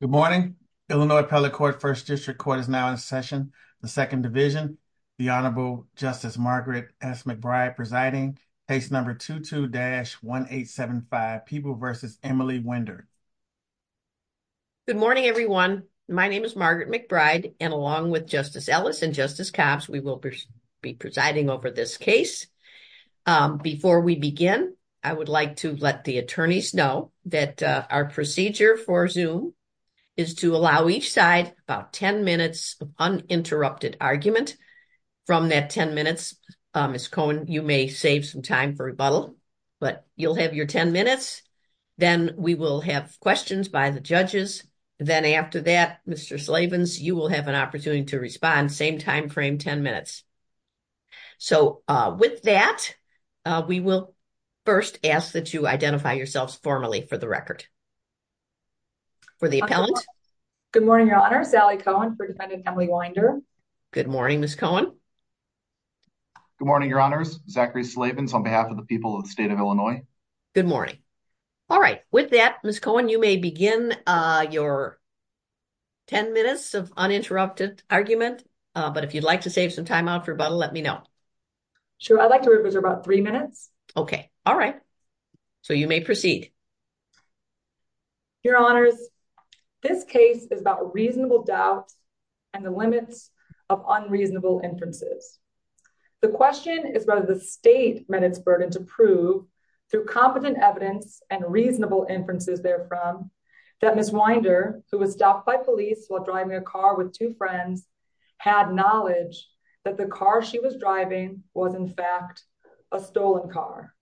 Good morning. Illinois Appellate Court First District Court is now in session. The Second Division, the Honorable Justice Margaret S. McBride presiding. Case number 22-1875, Peeble v. Emily Wynder. Good morning, everyone. My name is Margaret McBride, and along with Justice Ellis and Justice Copps, we will be presiding over this case. Before we begin, I would like to let the attorneys know that our procedure for Zoom is to allow each side about 10 minutes of uninterrupted argument. From that 10 minutes, Ms. Cohen, you may save some time for rebuttal, but you'll have your 10 minutes. Then we will have questions by the judges. Then after that, Mr. Slavens, you will have an opportunity to respond. Same time frame, 10 minutes. So with that, we will first ask that you identify yourselves formally for the record. For the appellant. Good morning, Your Honor. Sally Cohen for defendant Emily Wynder. Good morning, Ms. Cohen. Good morning, Your Honors. Zachary Slavens on behalf of the people of the state of Illinois. Good morning. All right. With that, Ms. Cohen, you may begin your 10 minutes of uninterrupted argument. But if you'd like to save some time out for rebuttal, let me know. Sure. I'd like to reserve about three minutes. OK. All right. So you may proceed. Your Honors, this case is about reasonable doubt and the limits of unreasonable inferences. The question is whether the state met its burden to prove through competent evidence and reasonable inferences therefrom that Ms. Wynder, who was stopped by police while driving a car with two friends, had knowledge that the car she was driving was in fact a stolen car.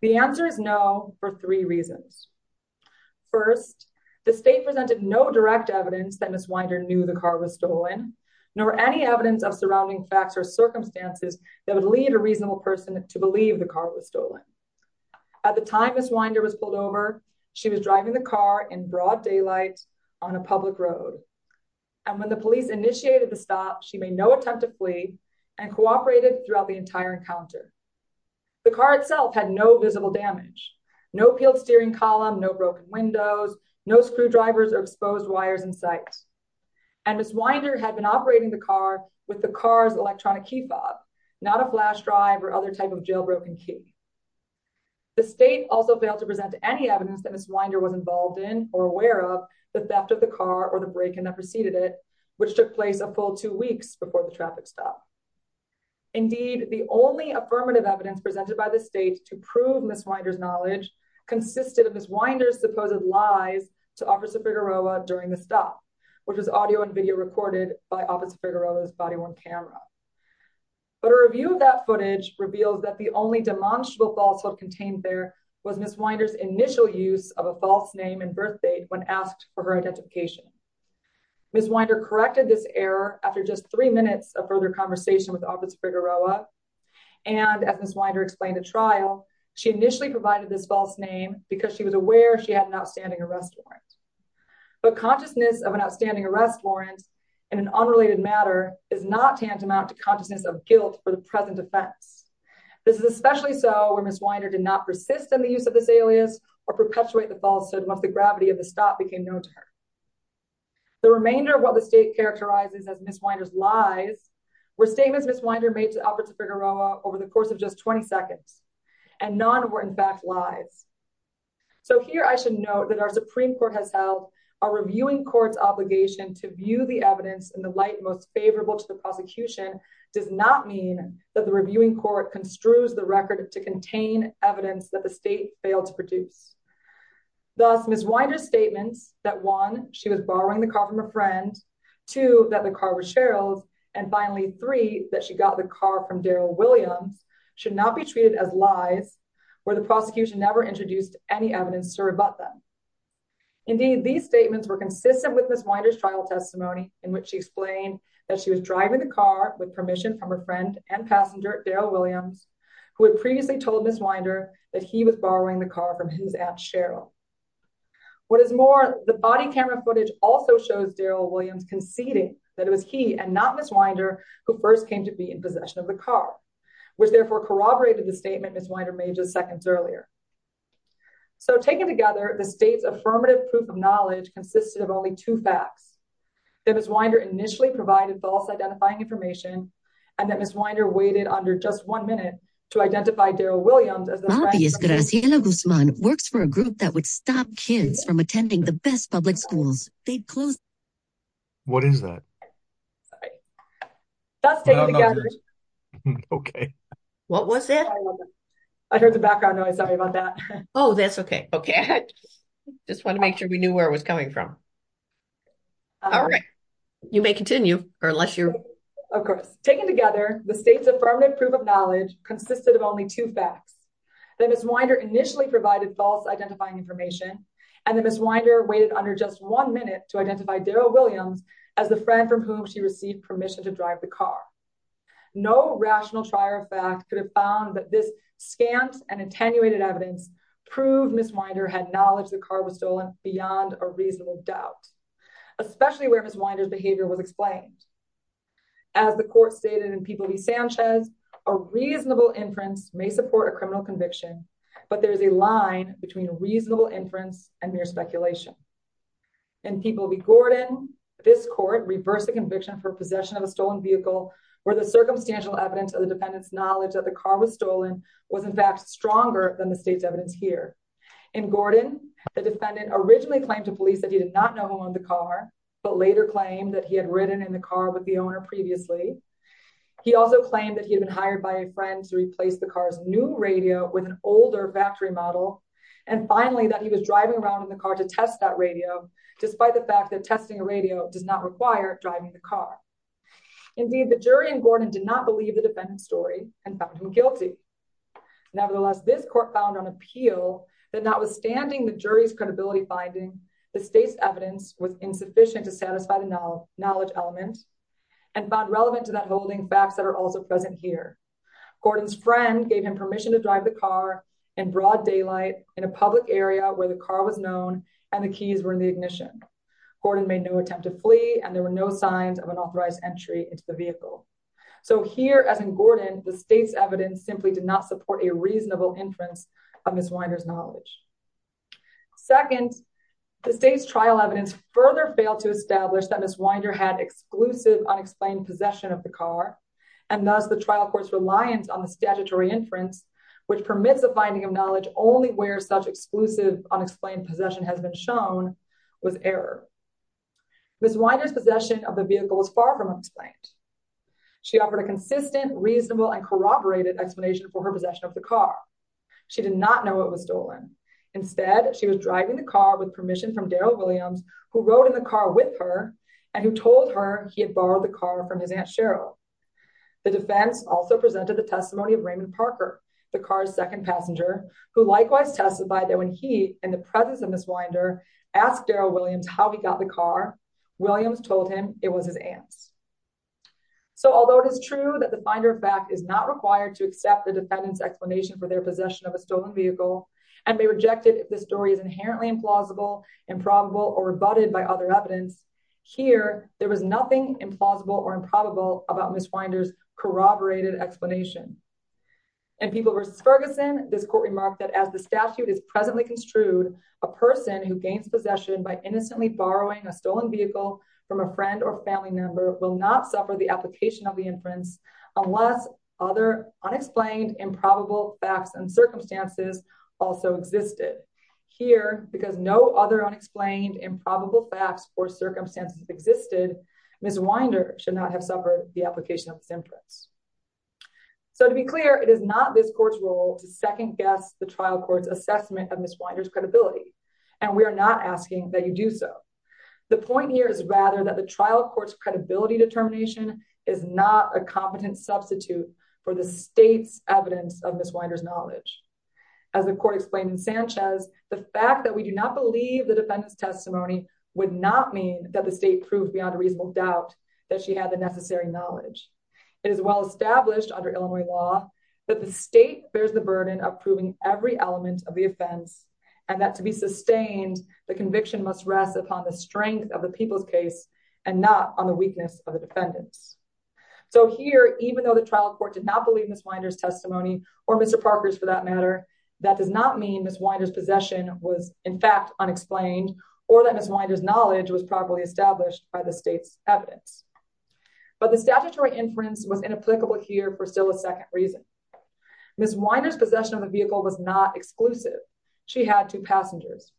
The answer is no for three reasons. First, the state presented no direct evidence that Ms. Wynder knew the car was stolen, nor any evidence of surrounding facts or circumstances that would lead a reasonable person to believe the car was stolen. At the time Ms. Wynder was pulled over, she was driving the car in broad daylight on a public road. And when the police initiated the stop, she made no attempt to flee and cooperated throughout the entire encounter. The car itself had no visible damage, no peeled steering column, no broken windows, no screwdrivers or exposed wires in sight. And Ms. Wynder had been operating the car with the car's electronic key fob, not a flash drive or other type of jailbroken key. The state also failed to present any evidence that Ms. Wynder was involved in or aware of the theft of the car or the break-in that preceded it, which took place a full two weeks before the traffic stop. Indeed, the only affirmative evidence presented by the state to prove Ms. Wynder's knowledge consisted of Ms. Wynder's supposed lies to Officer Figueroa during the stop, which was audio and video recorded by Officer Figueroa's body-worn camera. But a review of that footage reveals that the only demonstrable falsehood contained there was Ms. Wynder's initial use of a false name and birth date when asked for her identification. Ms. Wynder corrected this error after just three minutes of further conversation with Officer Figueroa, and as Ms. Wynder explained at trial, she initially provided this false name because she was aware she had an outstanding arrest warrant. But consciousness of an outstanding arrest warrant in an unrelated matter is not tantamount to consciousness of guilt for the present offense. This is especially so where Ms. Wynder did not persist in the use of this alias or perpetuate the falsehood once the gravity of the stop became known to her. The remainder of what the state characterizes as Ms. Wynder's lies were statements Ms. Wynder made to Officer Figueroa over the course of just 20 seconds, and none were in fact lies. So here I should note that our Supreme Court has held our reviewing court's obligation to view the evidence in the light most favorable to the prosecution does not mean that the reviewing court construes the record to contain evidence that the state failed to produce. Thus, Ms. Wynder's statements that one, she was borrowing the car from a friend, two, that the car was Cheryl's, and finally three, that she got the car from Darryl Williams should not be treated as lies where the prosecution never introduced any evidence to rebut them. Indeed, these statements were consistent with Ms. Wynder's trial testimony in which she explained that she was driving the car with permission from her friend and passenger Darryl Williams, who had previously told Ms. Wynder that he was borrowing the car from his aunt Cheryl. What is more, the body camera footage also shows Darryl Williams conceding that it was he and not Ms. Wynder who first came to be in possession of the car, which therefore corroborated the statement Ms. Wynder made just seconds earlier. So taken together, the state's affirmative proof of knowledge consisted of only two facts, that Ms. Obviously, Graciela Guzman works for a group that would stop kids from attending the best public schools. What is that? Sorry. That's taken together. Okay. What was that? I heard the background noise. Sorry about that. Oh, that's okay. Okay. Just want to make sure we knew where it was coming from. All right. You may continue or unless you're. Of course. Taken together, the state's affirmative proof of knowledge consisted of only two facts, that Ms. Wynder initially provided false identifying information, and that Ms. Wynder waited under just one minute to identify Darryl Williams as the friend from whom she received permission to drive the car. No rational trier of fact could have found that this scant and attenuated evidence proved Ms. Wynder had knowledge the car was stolen beyond a reasonable doubt, especially where Ms. Wynder's behavior was explained. As the court stated in People v. Sanchez, a reasonable inference may support a criminal conviction, but there is a line between a reasonable inference and mere speculation. In People v. Gordon, this court reversed the conviction for possession of a stolen vehicle where the circumstantial evidence of the defendant's knowledge that the car was stolen was in fact stronger than the state's evidence here. In Gordon, the defendant originally claimed to police that he did not know who owned the car, but later claimed that he had ridden in the car with the owner previously. He also claimed that he had been hired by a friend to replace the car's new radio with an older factory model, and finally that he was driving around in the car to test that radio, despite the fact that testing a radio does not require driving the car. Indeed, the jury in Gordon did not believe the defendant's story and found him guilty. Nevertheless, this court found on appeal that notwithstanding the jury's credibility finding, the state's evidence was insufficient to satisfy the knowledge element and found relevant to that holding facts that are also present here. Gordon's friend gave him permission to drive the car in broad daylight in a public area where the car was known and the keys were in the ignition. Gordon made no attempt to flee and there were no signs of an authorized entry into the vehicle. So here, as in Gordon, the state's evidence simply did not support a reasonable inference of Ms. Winder's knowledge. Second, the state's trial evidence further failed to establish that Ms. Winder had exclusive unexplained possession of the car, and thus the trial court's reliance on the statutory inference, which permits a finding of knowledge only where such exclusive unexplained possession has been shown, was error. Ms. Winder's possession of the vehicle is far from unexplained. She offered a consistent, reasonable, and corroborated explanation for her possession of the car. She did not know it was stolen. Instead, she was driving the car with permission from Daryl Williams, who rode in the car with her and who told her he had borrowed the car from his Aunt Cheryl. The defense also presented the testimony of Raymond Parker, the car's second passenger, who likewise testified that when he, in the presence of Ms. Winder, asked Daryl Williams how he got the car, Williams told him it was his aunt's. So although it is true that the finder of fact is not required to accept the defendant's explanation for their possession of a stolen vehicle, and may reject it if the story is inherently implausible, improbable, or rebutted by other evidence, here, there was nothing implausible or improbable about Ms. Winder's corroborated explanation. In People v. Ferguson, this court remarked that as the statute is presently construed, a person who gains possession by innocently borrowing a stolen vehicle from a friend or family member will not suffer the application of the inference unless other unexplained, improbable facts and circumstances also existed. Here, because no other unexplained, improbable facts or circumstances existed, Ms. Winder should not have suffered the application of this inference. So to be clear, it is not this court's role to second guess the trial court's assessment of Ms. Winder's credibility, and we are not asking that you do so. The point here is rather that the trial court's credibility determination is not a competent substitute for the state's evidence of Ms. Winder's knowledge. As the court explained in Sanchez, the fact that we do not believe the defendant's testimony would not mean that the state proved beyond a reasonable doubt that she had the necessary knowledge. It is well established under Illinois law that the state bears the burden of proving every element of the offense, and that to be sustained, the conviction must rest upon the strength of the people's case and not on the weakness of the defendants. So here, even though the trial court did not believe Ms. Winder's testimony, or Mr. Parker's for that matter, that does not mean Ms. Winder's possession was in fact unexplained, or that Ms. Winder's knowledge was properly established by the state's evidence. But the statutory inference was inapplicable here for still a second reason. Ms. Winder's possession of the vehicle was not exclusive. She had two passengers.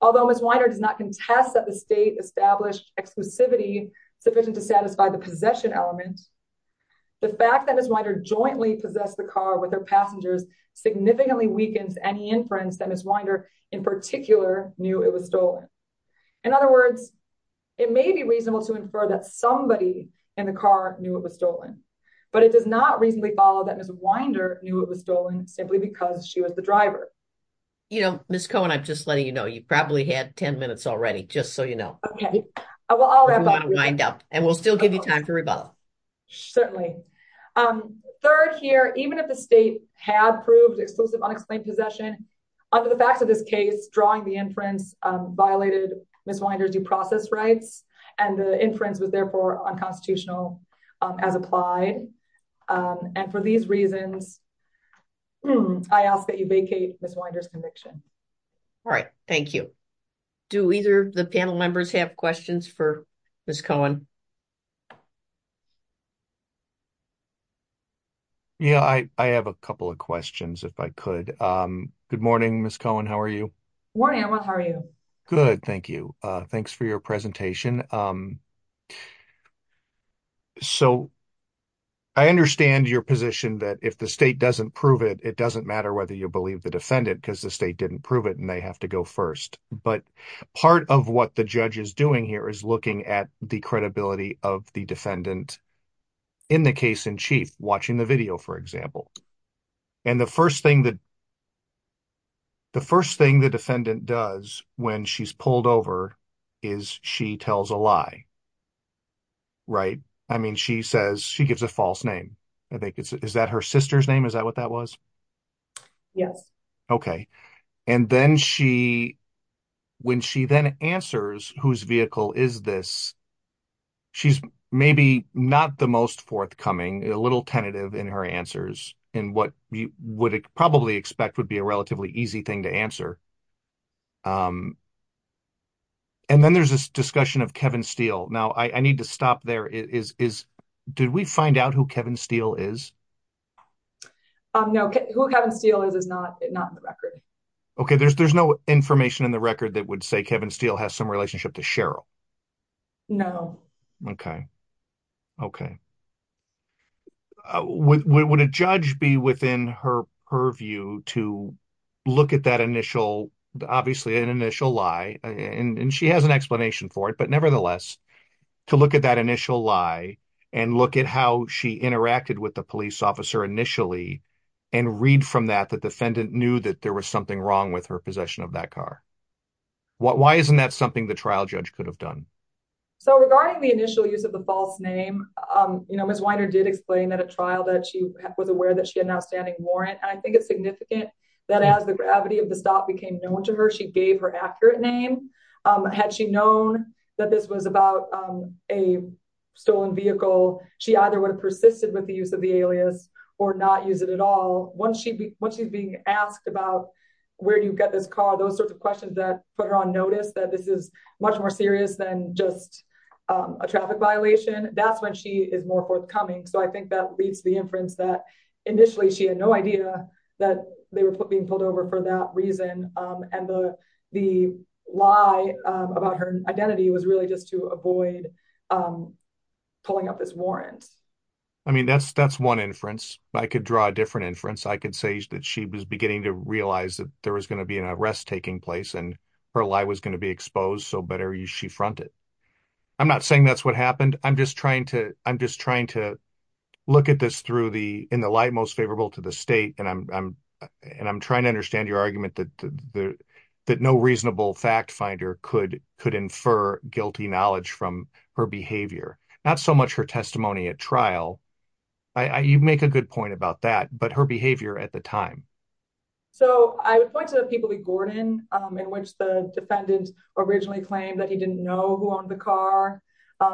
Although Ms. Winder does not contest that the state established exclusivity sufficient to satisfy the possession element, the fact that Ms. Winder jointly possessed the car with her passengers significantly weakens any inference that Ms. Winder in particular knew it was stolen. In other words, it may be reasonable to infer that somebody in the car knew it was stolen, but it does not reasonably follow that Ms. Winder knew it was stolen simply because she was the driver. You know, Ms. Cohen, I'm just letting you know, you probably had 10 minutes already, just so you know. Okay, well I'll have both. And we'll still give you time to rebuttal. Certainly. Third here, even if the state had proved exclusive unexplained possession, under the facts of this case, drawing the inference violated Ms. Winder's due process rights, and the inference was therefore unconstitutional as applied. And for these reasons, I ask that you vacate Ms. Winder's conviction. All right, thank you. Do either of the panel members have questions for Ms. Cohen? Yeah, I have a couple of questions, if I could. Good morning, Ms. Cohen, how are you? Morning, Amrit, how are you? Good, thank you. Thanks for your presentation. So, I understand your position that if the state doesn't prove it, it doesn't matter whether you believe the defendant because the state didn't prove it and they have to go first. But part of what the judge is doing here is looking at the credibility of the defendant in the case in chief, watching the video, for example. And the first thing the defendant does when she's pulled over is she tells a lie, right? I mean, she says, she gives a false name. Is that her sister's name? Is that what that was? Yes. Okay. And then she, when she then answers whose vehicle is this, she's maybe not the most forthcoming, a little tentative in her answers in what you would probably expect would be a relatively easy thing to answer. And then there's this discussion of Kevin Steele. Now, I need to stop there. Did we find out who Kevin Steele is? No. Who Kevin Steele is, is not in the record. Okay. There's no information in the record that would say Kevin Steele has some relationship to Cheryl. No. Okay. Okay. Would a judge be within her purview to look at that initial, obviously an initial lie, and she has an explanation for it, but nevertheless, to look at that initial lie and look at how she interacted with the police officer initially and read from that the defendant knew that there was something wrong with her possession of that car? Why isn't that something the trial judge could have done? So regarding the initial use of the false name, you know, Ms. Weiner did explain at a trial that she was aware that she had an outstanding warrant. And I think it's significant that as the gravity of the stop became known to her, she gave her accurate name. Had she known that this was about a stolen vehicle, she either would have persisted with the use of the alias or not use it at all. Once she's being asked about where do you get this car, those sorts of questions that put her on notice that this is much more serious than just a traffic violation, that's when she is more forthcoming. So I think that leads to the inference that initially she had no idea that they were being pulled over for that reason. And the lie about her identity was really just to avoid pulling up this warrant. I mean, that's that's one inference. I could draw a different inference. I could say that she was beginning to realize that there was going to be an arrest taking place and her lie was going to be exposed. So better use she fronted. I'm not saying that's what happened. I'm just trying to I'm just trying to look at this through the in the light most favorable to the state. And I'm and I'm trying to understand your argument that that no reasonable fact finder could could infer guilty knowledge from her behavior, not so much her testimony at trial. You make a good point about that, but her behavior at the time. So I would like to have people be Gordon in which the defendant originally claimed that he didn't know who owned the car,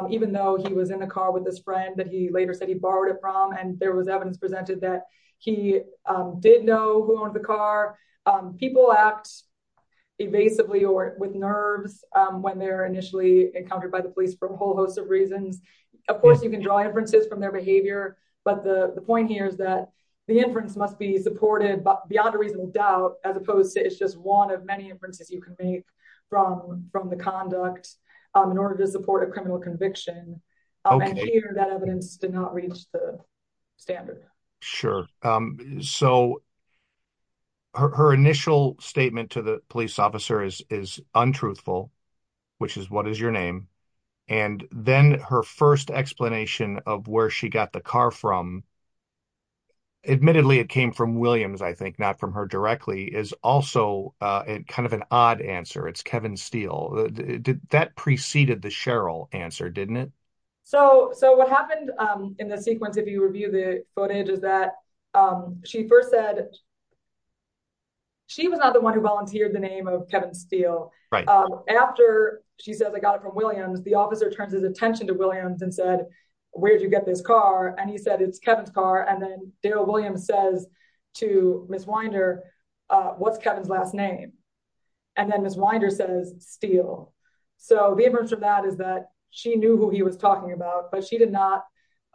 even though he was in the car with this friend that he later said he borrowed it from. And there was evidence presented that he did know who owned the car. People act evasively or with nerves when they're initially encountered by the police for a whole host of reasons. Of course, you can draw inferences from their behavior. But the point here is that the inference must be supported beyond a reasonable doubt, as opposed to it's just one of many inferences you can make from from the conduct in order to support a criminal conviction. That evidence did not reach the standard. Sure. So, her initial statement to the police officer is is untruthful, which is what is your name. And then her first explanation of where she got the car from. Admittedly, it came from Williams, I think, not from her directly, is also kind of an odd answer. It's Kevin Steele. That preceded the Cheryl answer, didn't it? So what happened in the sequence, if you review the footage, is that she first said she was not the one who volunteered the name of Kevin Steele. After she says, I got it from Williams, the officer turns his attention to Williams and said, where'd you get this car? And he said, it's Kevin's car. And then Darryl Williams says to Ms. Winder, what's Kevin's last name? And then Ms. Winder says, Steele. So the evidence from that is that she knew who he was talking about, but she did not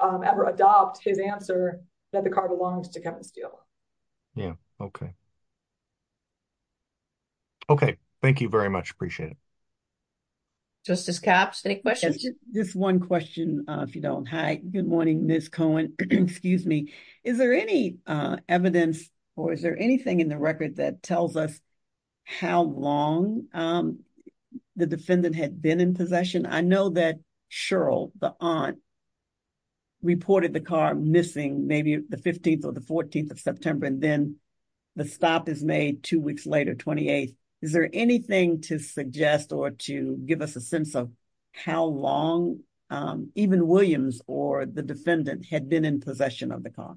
ever adopt his answer that the car belongs to Kevin Steele. Yeah. Okay. Okay. Thank you very much. Appreciate it. Justice Copps, any questions? Just one question, if you don't. Hi. Good morning, Ms. Cohen. Excuse me. Is there any evidence or is there anything in the record that tells us how long the defendant had been in possession? I know that Cheryl, the aunt, reported the car missing maybe the 15th or the 14th of September, and then the stop is made two weeks later, 28th. Is there anything to suggest or to give us a sense of how long even Williams or the defendant had been in possession of the car?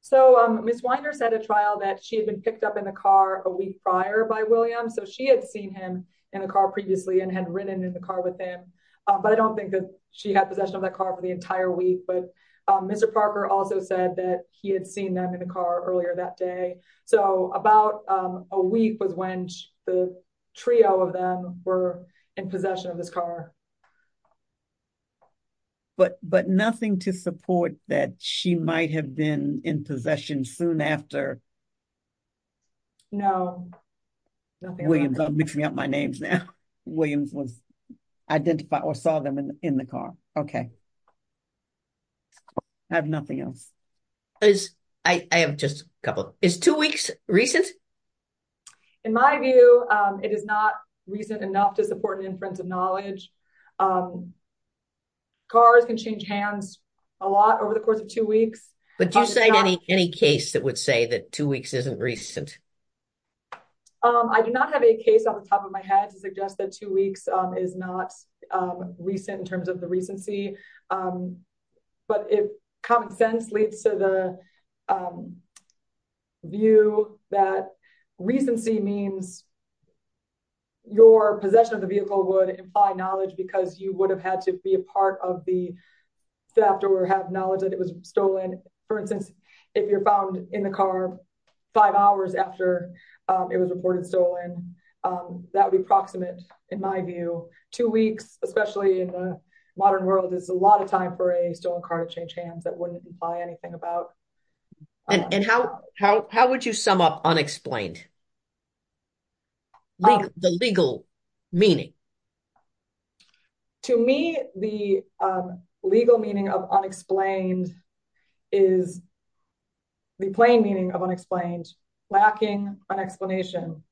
So Ms. Winder said at trial that she had been picked up in the car a week prior by Williams. So she had seen him in the car previously and had ridden in the car with him. But I don't think that she had possession of that car for the entire week. But Mr. Parker also said that he had seen them in the car earlier that day. So about a week was when the trio of them were in possession of this car. But nothing to support that she might have been in possession soon after? No. Williams, don't mix me up my names now. Williams was identified or saw them in the car. Okay. I have nothing else. I have just a couple. Is two weeks recent? In my view, it is not recent enough to support an inference of knowledge. Cars can change hands a lot over the course of two weeks. But do you cite any case that would say that two weeks isn't recent? I do not have a case on the top of my head to suggest that two weeks is not recent in terms of the recency. But if common sense leads to the view that recency means your possession of the vehicle would imply knowledge because you would have had to be a part of the theft or have knowledge that it was stolen. And for instance, if you're found in the car five hours after it was reported stolen, that would be proximate in my view. Two weeks, especially in the modern world, is a lot of time for a stolen car to change hands that wouldn't imply anything about... And how would you sum up unexplained? The legal meaning? To me, the legal meaning of unexplained is the plain meaning of unexplained, lacking an explanation.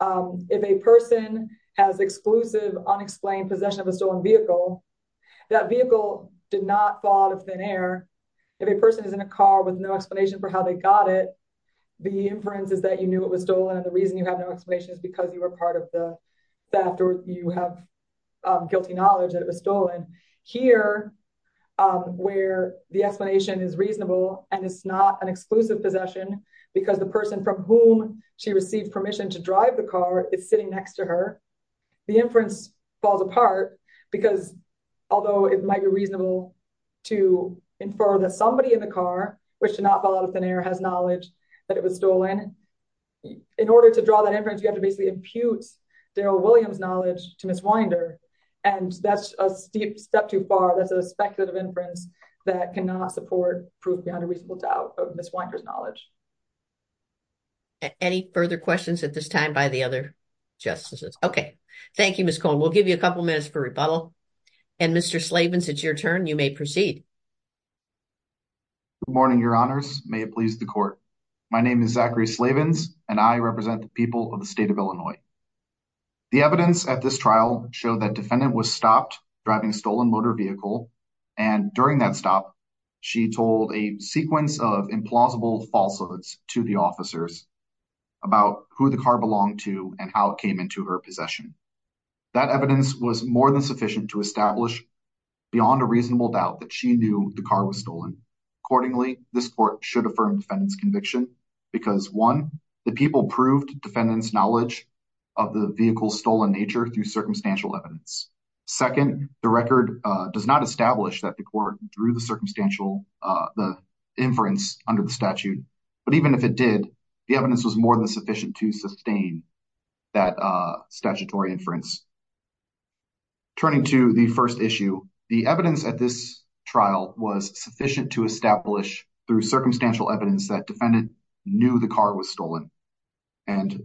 If a person has exclusive unexplained possession of a stolen vehicle, that vehicle did not fall out of thin air. If a person is in a car with no explanation for how they got it, the inference is that you knew it was stolen and the reason you have no explanation is because you were part of the theft or you have guilty knowledge that it was stolen. Here, where the explanation is reasonable and it's not an exclusive possession because the person from whom she received permission to drive the car is sitting next to her. The inference falls apart because although it might be reasonable to infer that somebody in the car, which did not fall out of thin air, has knowledge that it was stolen, in order to draw that inference, you have to basically impute Darrell Williams' knowledge to Ms. Winder. And that's a steep step too far. That's a speculative inference that cannot support proof beyond a reasonable doubt of Ms. Winder's knowledge. Any further questions at this time by the other justices? Okay. Thank you, Ms. Cohen. We'll give you a couple minutes for rebuttal. And Mr. Slavins, it's your turn. You may proceed. Good morning, Your Honors. May it please the court. My name is Zachary Slavins, and I represent the people of the state of Illinois. The evidence at this trial showed that a defendant was stopped driving a stolen motor vehicle. And during that stop, she told a sequence of implausible falsehoods to the officers about who the car belonged to and how it came into her possession. That evidence was more than sufficient to establish beyond a reasonable doubt that she knew the car was stolen. Accordingly, this court should affirm the defendant's conviction because, one, the people proved the defendant's knowledge of the vehicle's stolen nature through circumstantial evidence. Second, the record does not establish that the court drew the inference under the statute. But even if it did, the evidence was more than sufficient to sustain that statutory inference. Turning to the first issue, the evidence at this trial was sufficient to establish through circumstantial evidence that the defendant knew the car was stolen. And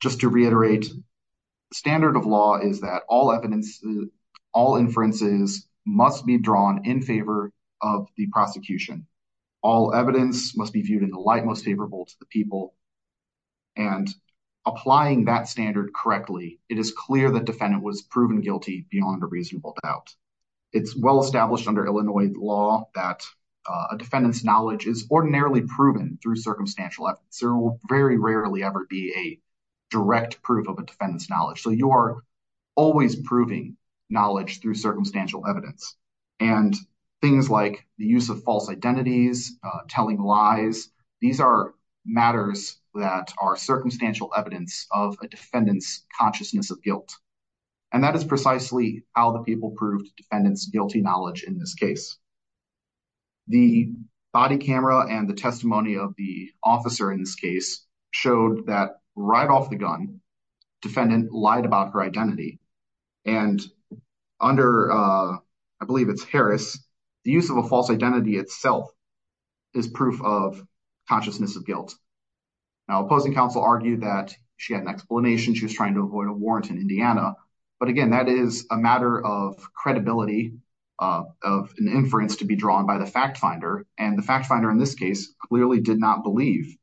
just to reiterate, the standard of law is that all inferences must be drawn in favor of the prosecution. All evidence must be viewed in the light most favorable to the people. And applying that standard correctly, it is clear the defendant was proven guilty beyond a reasonable doubt. It's well established under Illinois law that a defendant's knowledge is ordinarily proven through circumstantial evidence. There will very rarely ever be a direct proof of a defendant's knowledge. So you are always proving knowledge through circumstantial evidence. And things like the use of false identities, telling lies, these are matters that are circumstantial evidence of a defendant's consciousness of guilt. And that is precisely how the people proved defendant's guilty knowledge in this case. The body camera and the testimony of the officer in this case showed that right off the gun, defendant lied about her identity. And under, I believe it's Harris, the use of a false identity itself is proof of consciousness of guilt. Now opposing counsel argued that she had an explanation, she was trying to avoid a warrant in Indiana. But again, that is a matter of credibility of an inference to be drawn by the fact finder. And the fact finder in this case clearly did not believe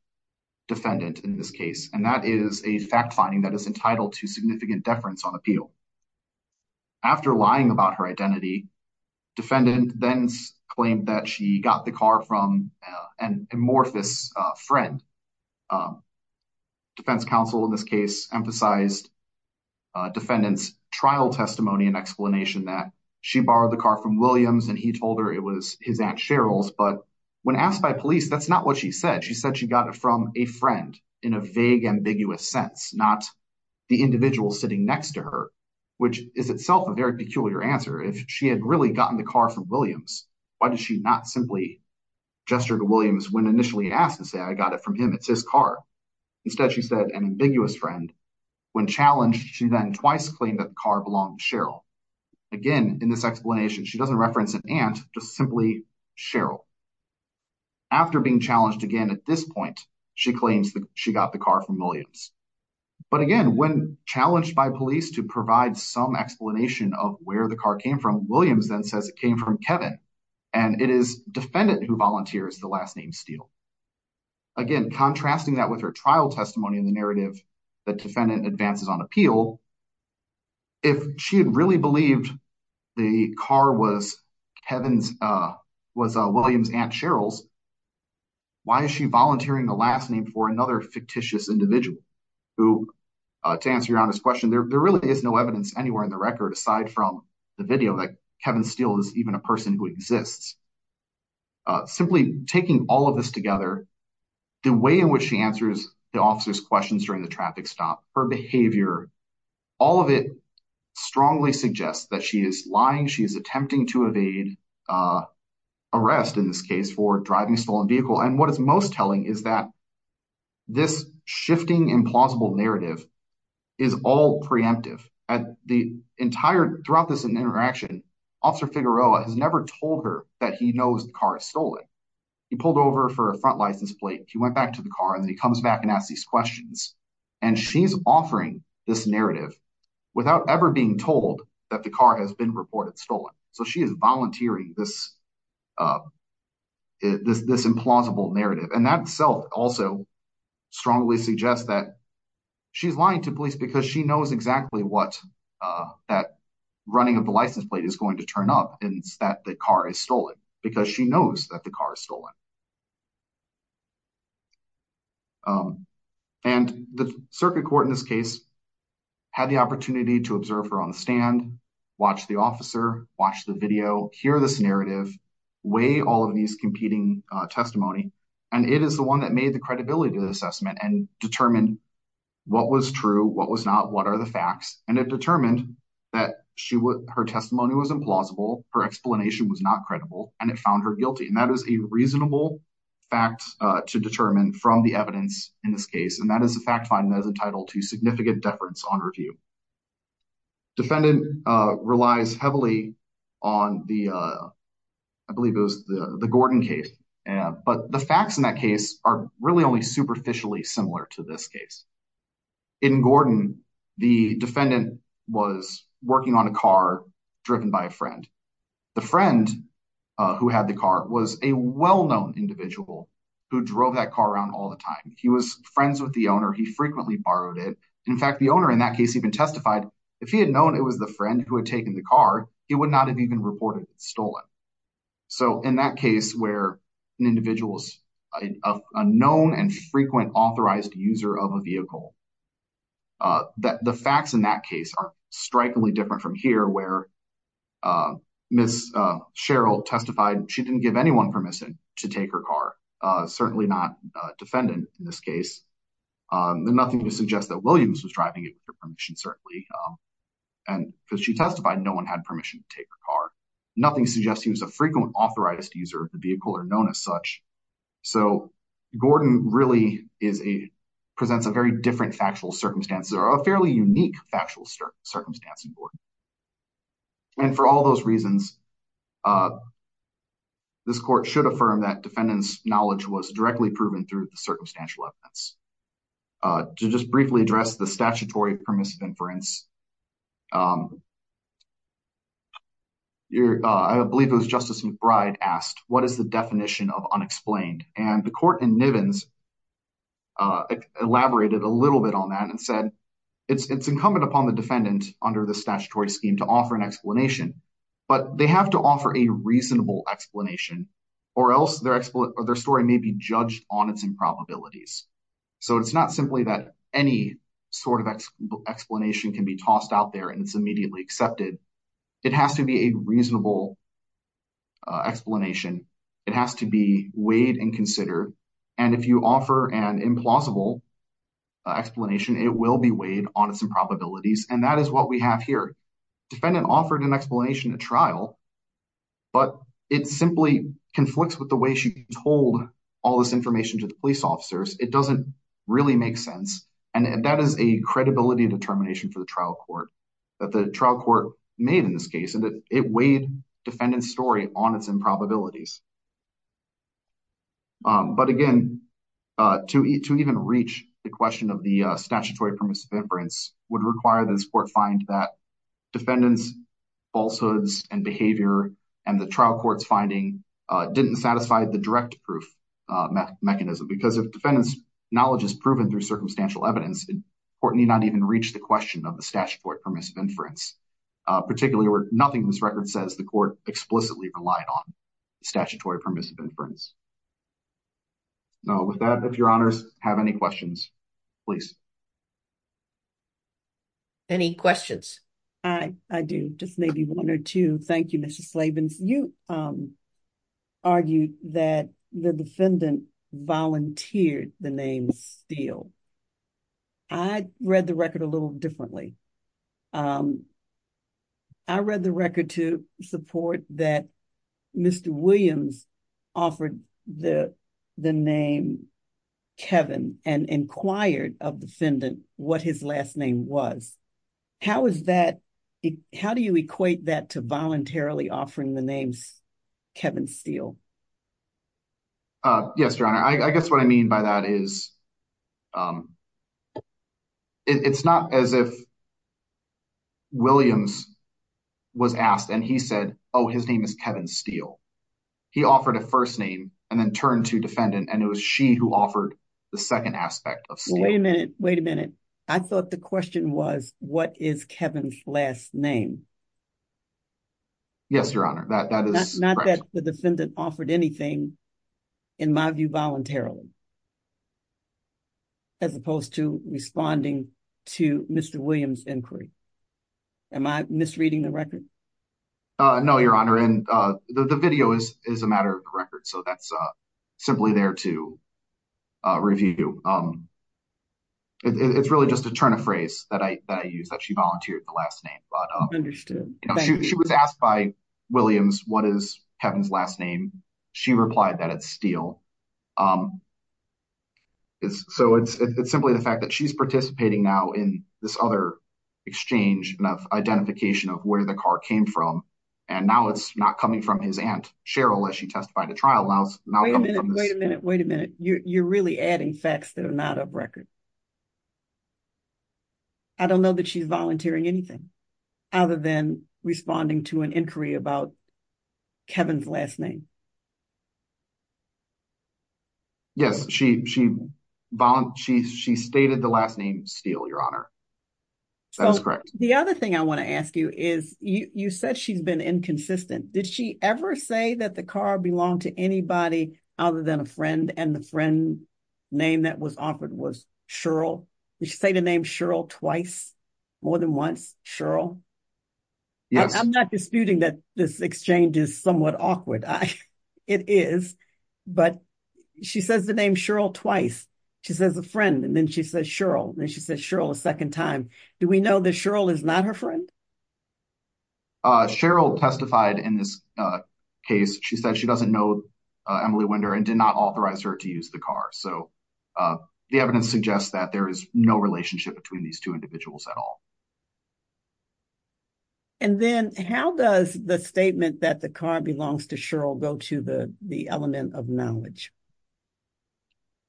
defendant in this case. And that is a fact finding that is entitled to significant deference on appeal. After lying about her identity, defendant then claimed that she got the car from an amorphous friend. Defense counsel in this case emphasized defendant's trial testimony and explanation that she borrowed the car from Williams and he told her it was his aunt Cheryl's. But when asked by police, that's not what she said. She said she got it from a friend in a vague, ambiguous sense, not the individual sitting next to her, which is itself a very peculiar answer. If she had really gotten the car from Williams, why did she not simply gesture to Williams when initially asked and say, I got it from him, it's his car. Instead, she said an ambiguous friend. When challenged, she then twice claimed that the car belonged to Cheryl. Again, in this explanation, she doesn't reference an aunt, just simply Cheryl. After being challenged again at this point, she claims that she got the car from Williams. But again, when challenged by police to provide some explanation of where the car came from, Williams then says it came from Kevin. And it is defendant who volunteers the last name steal. Again, contrasting that with her trial testimony in the narrative, the defendant advances on appeal. If she had really believed the car was Kevin's, was Williams aunt Cheryl's. Why is she volunteering the last name for another fictitious individual who, to answer your honest question, there really is no evidence anywhere in the record aside from the video that Kevin Steele is even a person who exists. Simply taking all of this together, the way in which she answers the officer's questions during the traffic stop, her behavior, all of it strongly suggests that she is lying. She is attempting to evade arrest in this case for driving a stolen vehicle. And what is most telling is that this shifting implausible narrative is all preemptive. Throughout this interaction, Officer Figueroa has never told her that he knows the car is stolen. He pulled over for a front license plate, he went back to the car, and then he comes back and asks these questions. And she's offering this narrative without ever being told that the car has been reported stolen. So she is volunteering this implausible narrative. And that itself also strongly suggests that she's lying to police because she knows exactly what that running of the license plate is going to turn up and that the car is stolen, because she knows that the car is stolen. And the circuit court in this case had the opportunity to observe her on the stand, watch the officer, watch the video, hear this narrative, weigh all of these competing testimony. And it is the one that made the credibility assessment and determined what was true, what was not, what are the facts. And it determined that her testimony was implausible, her explanation was not credible, and it found her guilty. And that is a reasonable fact to determine from the evidence in this case. And that is a fact finding that is entitled to significant deference on review. Defendant relies heavily on the, I believe it was the Gordon case. But the facts in that case are really only superficially similar to this case. In Gordon, the defendant was working on a car driven by a friend. The friend who had the car was a well-known individual who drove that car around all the time. He was friends with the owner. He frequently borrowed it. In fact, the owner in that case even testified if he had known it was the friend who had taken the car, he would not have even reported it stolen. So in that case where an individual is a known and frequent authorized user of a vehicle, the facts in that case are strikingly different from here where Ms. Cheryl testified she didn't give anyone permission to take her car. Certainly not defendant in this case. Nothing to suggest that Williams was driving it with her permission, certainly. And because she testified no one had permission to take her car. Nothing suggests he was a frequent authorized user of the vehicle or known as such. So Gordon really presents a very different factual circumstance or a fairly unique factual circumstance in Gordon. And for all those reasons, this court should affirm that defendant's knowledge was directly proven through the circumstantial evidence. To just briefly address the statutory permissive inference, I believe it was Justice McBride asked, what is the definition of unexplained? And the court in Nivens elaborated a little bit on that and said it's incumbent upon the defendant under the statutory scheme to offer an explanation. But they have to offer a reasonable explanation or else their story may be judged on its improbabilities. So it's not simply that any sort of explanation can be tossed out there and it's immediately accepted. It has to be a reasonable explanation. It has to be weighed and considered. And if you offer an implausible explanation, it will be weighed on its improbabilities. And that is what we have here. Defendant offered an explanation at trial, but it simply conflicts with the way she told all this information to the police officers. It doesn't really make sense. And that is a credibility determination for the trial court that the trial court made in this case. And it weighed defendant's story on its improbabilities. But again, to even reach the question of the statutory permissive inference would require this court find that defendant's falsehoods and behavior and the trial court's finding didn't satisfy the direct proof mechanism. Because if defendant's knowledge is proven through circumstantial evidence, the court may not even reach the question of the statutory permissive inference. Particularly where nothing in this record says the court explicitly relied on statutory permissive inference. So with that, if your honors have any questions, please. Any questions? I do. Just maybe one or two. Thank you, Mr. Slavens. You argued that the defendant volunteered the name Steele. I read the record a little differently. I read the record to support that Mr. Williams offered the name Kevin and inquired of defendant what his last name was. How is that? How do you equate that to voluntarily offering the names Kevin Steele? Yes, your honor. I guess what I mean by that is it's not as if Williams was asked and he said, oh, his name is Kevin Steele. He offered a first name and then turned to defendant and it was she who offered the second aspect of Steele. Wait a minute. I thought the question was, what is Kevin's last name? Yes, your honor. That is not that the defendant offered anything in my view voluntarily. As opposed to responding to Mr. Williams inquiry. Am I misreading the record? No, your honor. The video is a matter of record, so that's simply there to review. It's really just a turn of phrase that I use that she volunteered the last name. Understood. She was asked by Williams, what is Kevin's last name? She replied that it's Steele. So it's simply the fact that she's participating now in this other exchange of identification of where the car came from. And now it's not coming from his aunt, Cheryl, as she testified at trial. Wait a minute. Wait a minute. You're really adding facts that are not of record. I don't know that she's volunteering anything. Other than responding to an inquiry about Kevin's last name. Yes, she she she she stated the last name steal your honor. So the other thing I want to ask you is you said she's been inconsistent. Did she ever say that the car belonged to anybody other than a friend? And the friend name that was offered was Cheryl. You should say the name Cheryl twice more than once. Cheryl. I'm not disputing that this exchange is somewhat awkward. It is. But she says the name Cheryl twice. She says a friend. And then she says Cheryl. And she says Cheryl a second time. Do we know that Cheryl is not her friend? Cheryl testified in this case. She said she doesn't know Emily Winder and did not authorize her to use the car. So the evidence suggests that there is no relationship between these two individuals at all. And then how does the statement that the car belongs to Cheryl go to the element of knowledge?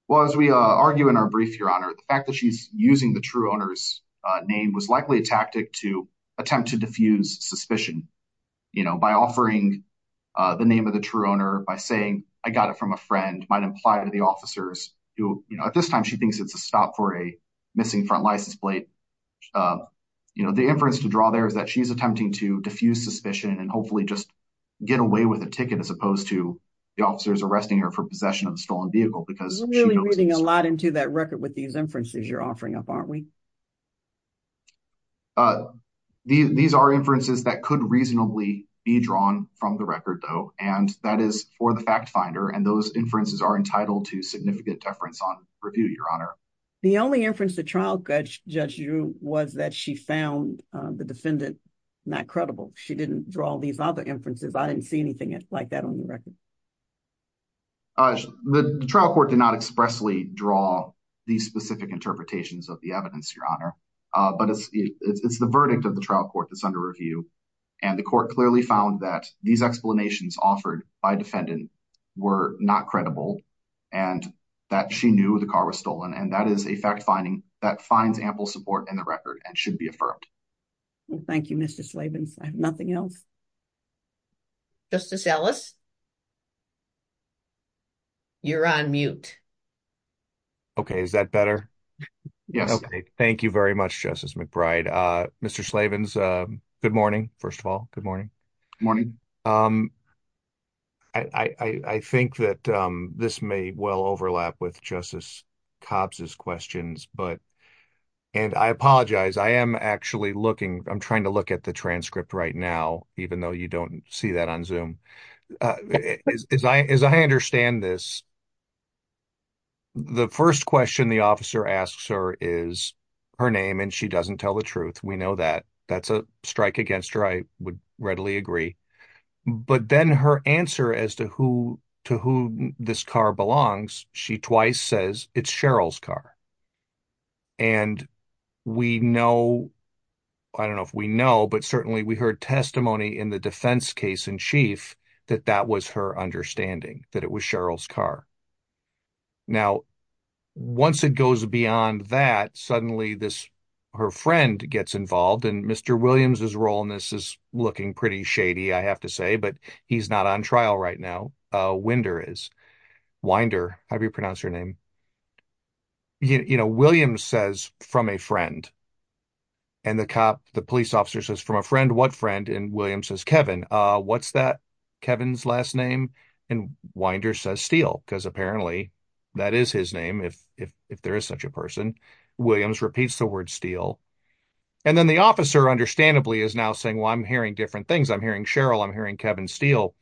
Well, as we argue in our brief, your honor, the fact that she's using the true owner's name was likely a tactic to attempt to diffuse suspicion. You know, by offering the name of the true owner by saying I got it from a friend might imply to the officers. You know, at this time, she thinks it's a stop for a missing front license plate. You know, the inference to draw there is that she's attempting to diffuse suspicion and hopefully just get away with a ticket as opposed to the officers arresting her for possession of a stolen vehicle. Because really reading a lot into that record with these inferences you're offering up, aren't we? These are inferences that could reasonably be drawn from the record, though. And that is for the fact finder. And those inferences are entitled to significant deference on review. Your honor. The only inference the trial judge you was that she found the defendant not credible. She didn't draw these other inferences. I didn't see anything like that on the record. The trial court did not expressly draw these specific interpretations of the evidence, your honor. But it's the verdict of the trial court that's under review. And the court clearly found that these explanations offered by defendant were not credible and that she knew the car was stolen. And that is a fact finding that finds ample support in the record and should be affirmed. Thank you, Mr. Slavin. I have nothing else. Justice Ellis. You're on mute. Okay. Is that better? Yes. Okay. Thank you very much, Justice McBride. Mr. Slavin, good morning, first of all. Good morning. Morning. I think that this may well overlap with Justice Cobb's questions. But and I apologize. I am actually looking. I'm trying to look at the transcript right now, even though you don't see that on Zoom. As I understand this. The first question the officer asks her is her name and she doesn't tell the truth. We know that. That's a strike against her. I would readily agree. But then her answer as to who to who this car belongs. She twice says it's Cheryl's car. And we know. I don't know if we know, but certainly we heard testimony in the defense case in chief that that was her understanding that it was Cheryl's car. Now, once it goes beyond that, suddenly this her friend gets involved and Mr. Williams's role in this is looking pretty shady, I have to say, but he's not on trial right now. Winder is. Winder. How do you pronounce her name? You know, Williams says from a friend. And the cop, the police officer says from a friend. What friend? And Williams says, Kevin, what's that? Kevin's last name. And Winder says Steele, because apparently that is his name. If if if there is such a person, Williams repeats the word Steele. And then the officer, understandably, is now saying, well, I'm hearing different things. I'm hearing Cheryl. I'm hearing Kevin Steele.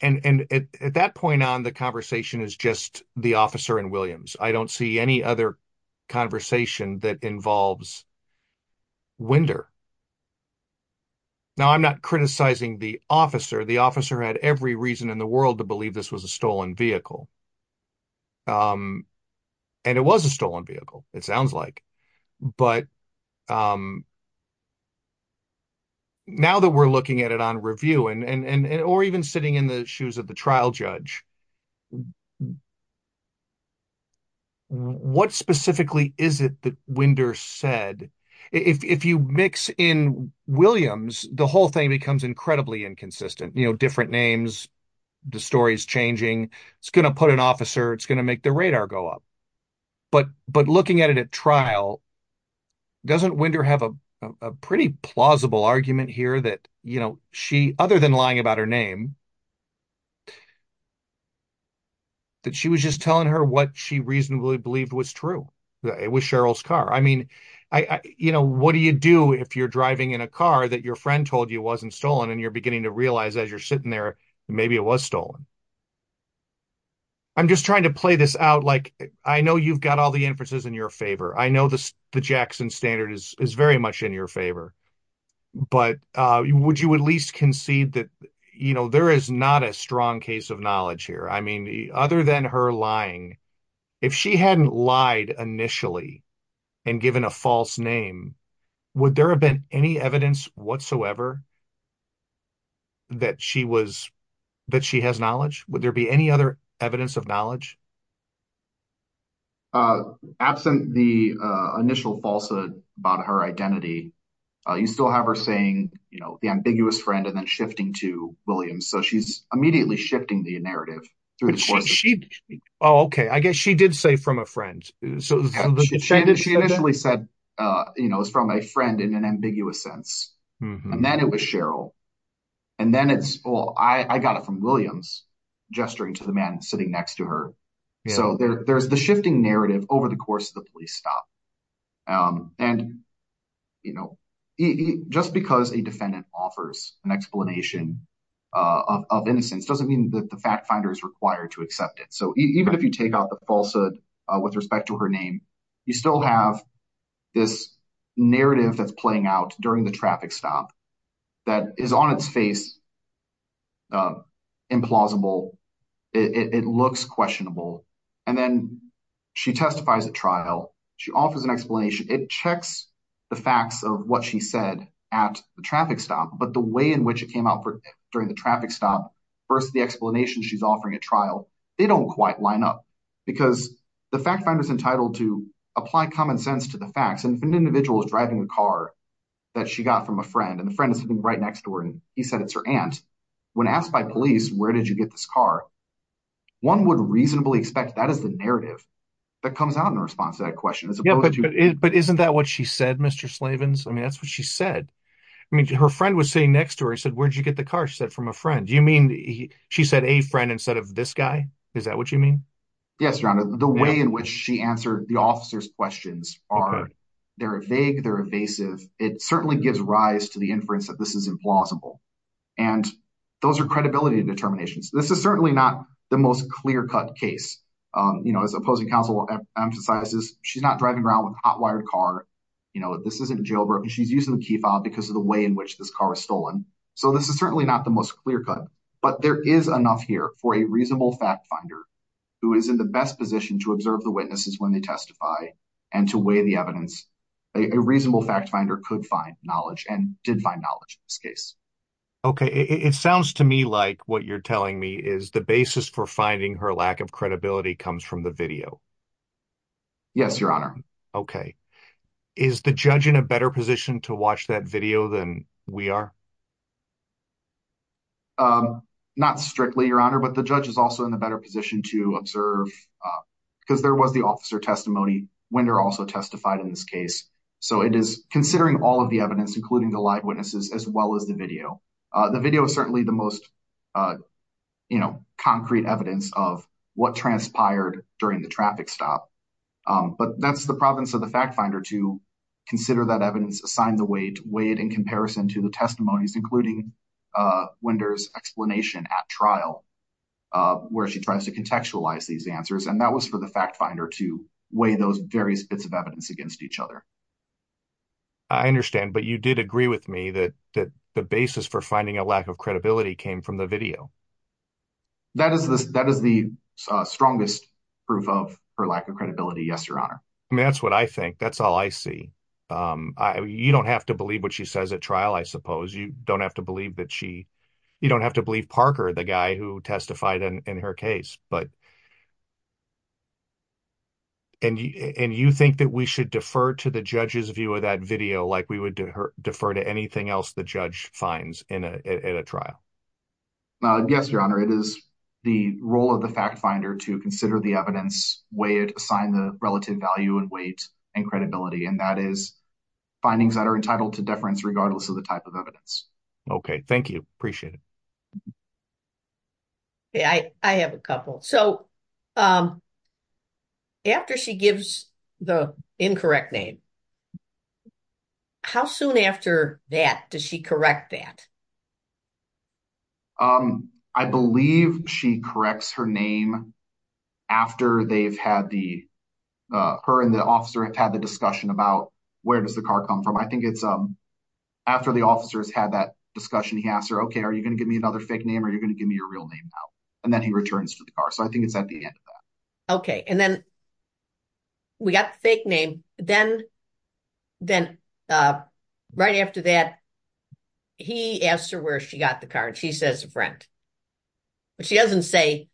And at that point on, the conversation is just the officer and Williams. I don't see any other conversation that involves. Winder. Now, I'm not criticizing the officer. The officer had every reason in the world to believe this was a stolen vehicle. And it was a stolen vehicle, it sounds like, but. Now that we're looking at it on review and or even sitting in the shoes of the trial judge. What specifically is it that Winder said, if you mix in Williams, the whole thing becomes incredibly inconsistent, you know, different names, the story is changing, it's going to put an officer, it's going to make the radar go up. But but looking at it at trial. Doesn't Winder have a pretty plausible argument here that, you know, she other than lying about her name. That she was just telling her what she reasonably believed was true. It was Cheryl's car. I mean, I, you know, what do you do if you're driving in a car that your friend told you wasn't stolen and you're beginning to realize as you're sitting there, maybe it was stolen. I'm just trying to play this out. Like, I know you've got all the inferences in your favor. I know the Jackson standard is very much in your favor. But would you at least concede that, you know, there is not a strong case of knowledge here. I mean, the other than her lying. If she hadn't lied initially and given a false name. Would there have been any evidence whatsoever. That she was that she has knowledge. Would there be any other evidence of knowledge. Absent the initial falsehood about her identity. You still have her saying, you know, the ambiguous friend and then shifting to Williams. So she's immediately shifting the narrative. She. Oh, OK. I guess she did say from a friend. So she initially said, you know, is from a friend in an ambiguous sense. And then it was Cheryl. And then it's all I got it from Williams gesturing to the man sitting next to her. So there's the shifting narrative over the course of the police stop. And, you know, just because a defendant offers an explanation of innocence doesn't mean that the fact finder is required to accept it. So even if you take out the falsehood with respect to her name, you still have this narrative that's playing out during the traffic stop. That is on its face. Implausible. It looks questionable. And then she testifies at trial. She offers an explanation. It checks the facts of what she said at the traffic stop. But the way in which it came out during the traffic stop. First, the explanation she's offering a trial. They don't quite line up because the fact finder is entitled to apply common sense to the facts. And if an individual is driving a car that she got from a friend and the friend is sitting right next to her and he said it's her aunt. When asked by police, where did you get this car? One would reasonably expect that is the narrative that comes out in response to that question. But isn't that what she said, Mr. Slavens? I mean, that's what she said. I mean, her friend was sitting next to her. I said, where'd you get the car? She said from a friend. You mean she said a friend instead of this guy? Is that what you mean? Yes, Your Honor. The way in which she answered the officer's questions are, they're vague, they're evasive. It certainly gives rise to the inference that this is implausible. And those are credibility determinations. This is certainly not the most clear-cut case. You know, as opposing counsel emphasizes, she's not driving around with a hot-wired car. You know, this isn't jailbroken. She's using the key fob because of the way in which this car was stolen. So this is certainly not the most clear-cut. But there is enough here for a reasonable fact finder who is in the best position to observe the witnesses when they testify and to weigh the evidence. A reasonable fact finder could find knowledge and did find knowledge in this case. Okay. It sounds to me like what you're telling me is the basis for finding her lack of credibility comes from the video. Yes, Your Honor. Okay. Is the judge in a better position to watch that video than we are? Not strictly, Your Honor. But the judge is also in a better position to observe because there was the officer testimony when they're also testified in this case. So it is considering all of the evidence, including the live witnesses, as well as the video. The video is certainly the most, you know, concrete evidence of what transpired during the traffic stop. But that's the province of the fact finder to consider that evidence, assign the weight, weigh it in comparison to the testimonies, including Winder's explanation at trial where she tries to contextualize these answers. And that was for the fact finder to weigh those various bits of evidence against each other. I understand. But you did agree with me that the basis for finding a lack of credibility came from the video. That is the strongest proof of her lack of credibility. Yes, Your Honor. That's what I think. That's all I see. You don't have to believe what she says at trial, I suppose. You don't have to believe that she you don't have to believe Parker, the guy who testified in her case. And you think that we should defer to the judge's view of that video like we would defer to anything else the judge finds in a trial? Yes, Your Honor. It is the role of the fact finder to consider the evidence, weigh it, assign the relative value and weight and credibility. And that is findings that are entitled to deference regardless of the type of evidence. Okay, thank you. Appreciate it. Yeah, I have a couple. So after she gives the incorrect name, how soon after that does she correct that? I believe she corrects her name after they've had the her and the officer have had the discussion about where does the car come from? I think it's after the officers had that discussion, he asked her, OK, are you going to give me another fake name or you're going to give me your real name now? And then he returns to the car. So I think it's at the end of that. OK, and then we got the fake name. Then right after that, he asked her where she got the car and she says a friend. But she doesn't say,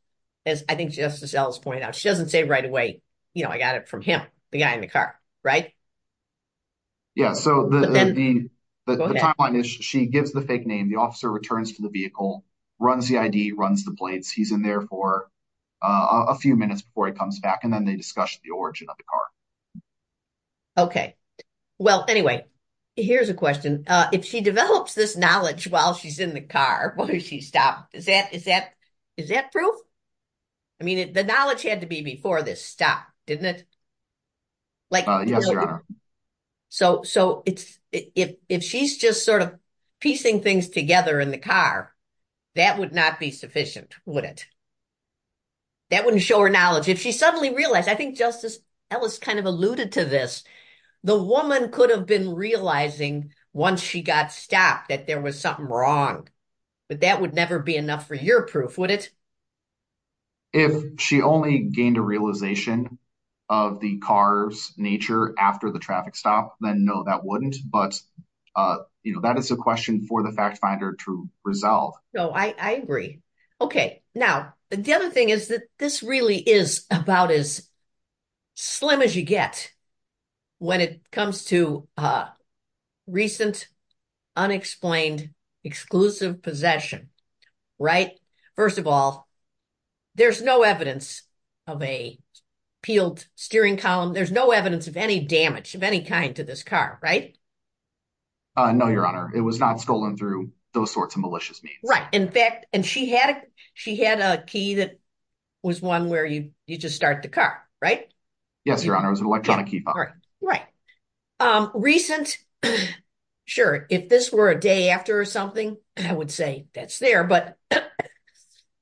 as I think Justice Ellis pointed out, she doesn't say right away, you know, I got it from him, the guy in the car, right? Yeah, so the timeline is she gives the fake name, the officer returns to the vehicle, runs the ID, runs the plates. He's in there for a few minutes before he comes back and then they discuss the origin of the car. OK, well, anyway, here's a question. If she develops this knowledge while she's in the car, will she stop? Is that is that is that proof? I mean, the knowledge had to be before this stop, didn't it? Yes, Your Honor. So so it's if she's just sort of piecing things together in the car, that would not be sufficient, would it? That wouldn't show her knowledge if she suddenly realized I think Justice Ellis kind of alluded to this. The woman could have been realizing once she got stopped that there was something wrong. But that would never be enough for your proof, would it? If she only gained a realization of the car's nature after the traffic stop, then no, that wouldn't. But, you know, that is a question for the fact finder to resolve. No, I agree. OK, now, the other thing is that this really is about as slim as you get when it comes to recent, unexplained, exclusive possession. Right. First of all, there's no evidence of a peeled steering column. There's no evidence of any damage of any kind to this car. Right. No, Your Honor. It was not stolen through those sorts of malicious means. Right. In fact, and she had she had a key that was one where you you just start the car. Right. Yes, Your Honor. Right. Recent. Sure. If this were a day after or something, I would say that's there. But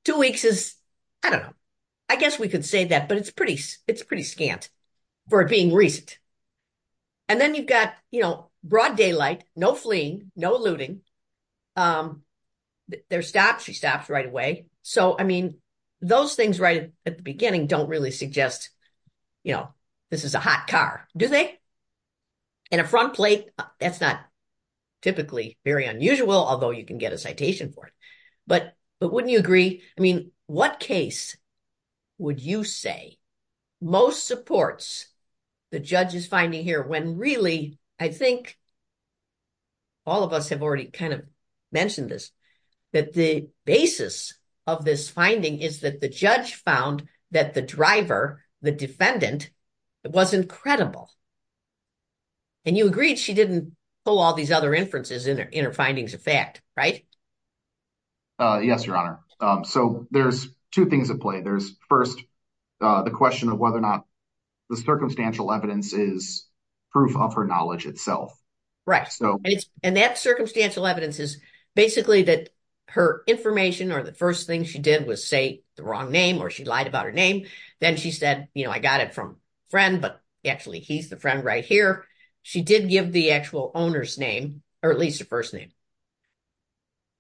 two weeks is I don't know. I guess we could say that. But it's pretty it's pretty scant for being recent. And then you've got, you know, broad daylight. No fleeing. No looting. They're stopped. She stopped right away. So, I mean, those things right at the beginning don't really suggest, you know, this is a hot car, do they? And a front plate. That's not typically very unusual, although you can get a citation for it. But but wouldn't you agree? I mean, what case would you say most supports the judge is finding here when really, I think all of us have already kind of mentioned this, that the basis of this finding is that the judge found that the driver, the defendant, it was incredible. And you agreed she didn't pull all these other inferences in her findings of fact. Right. Yes, Your Honor. So there's two things at play. There's first the question of whether or not the circumstantial evidence is proof of her knowledge itself. Right. So and that circumstantial evidence is basically that her information or the first thing she did was say the wrong name or she lied about her name. Then she said, you know, I got it from a friend, but actually he's the friend right here. She did give the actual owner's name or at least a first name.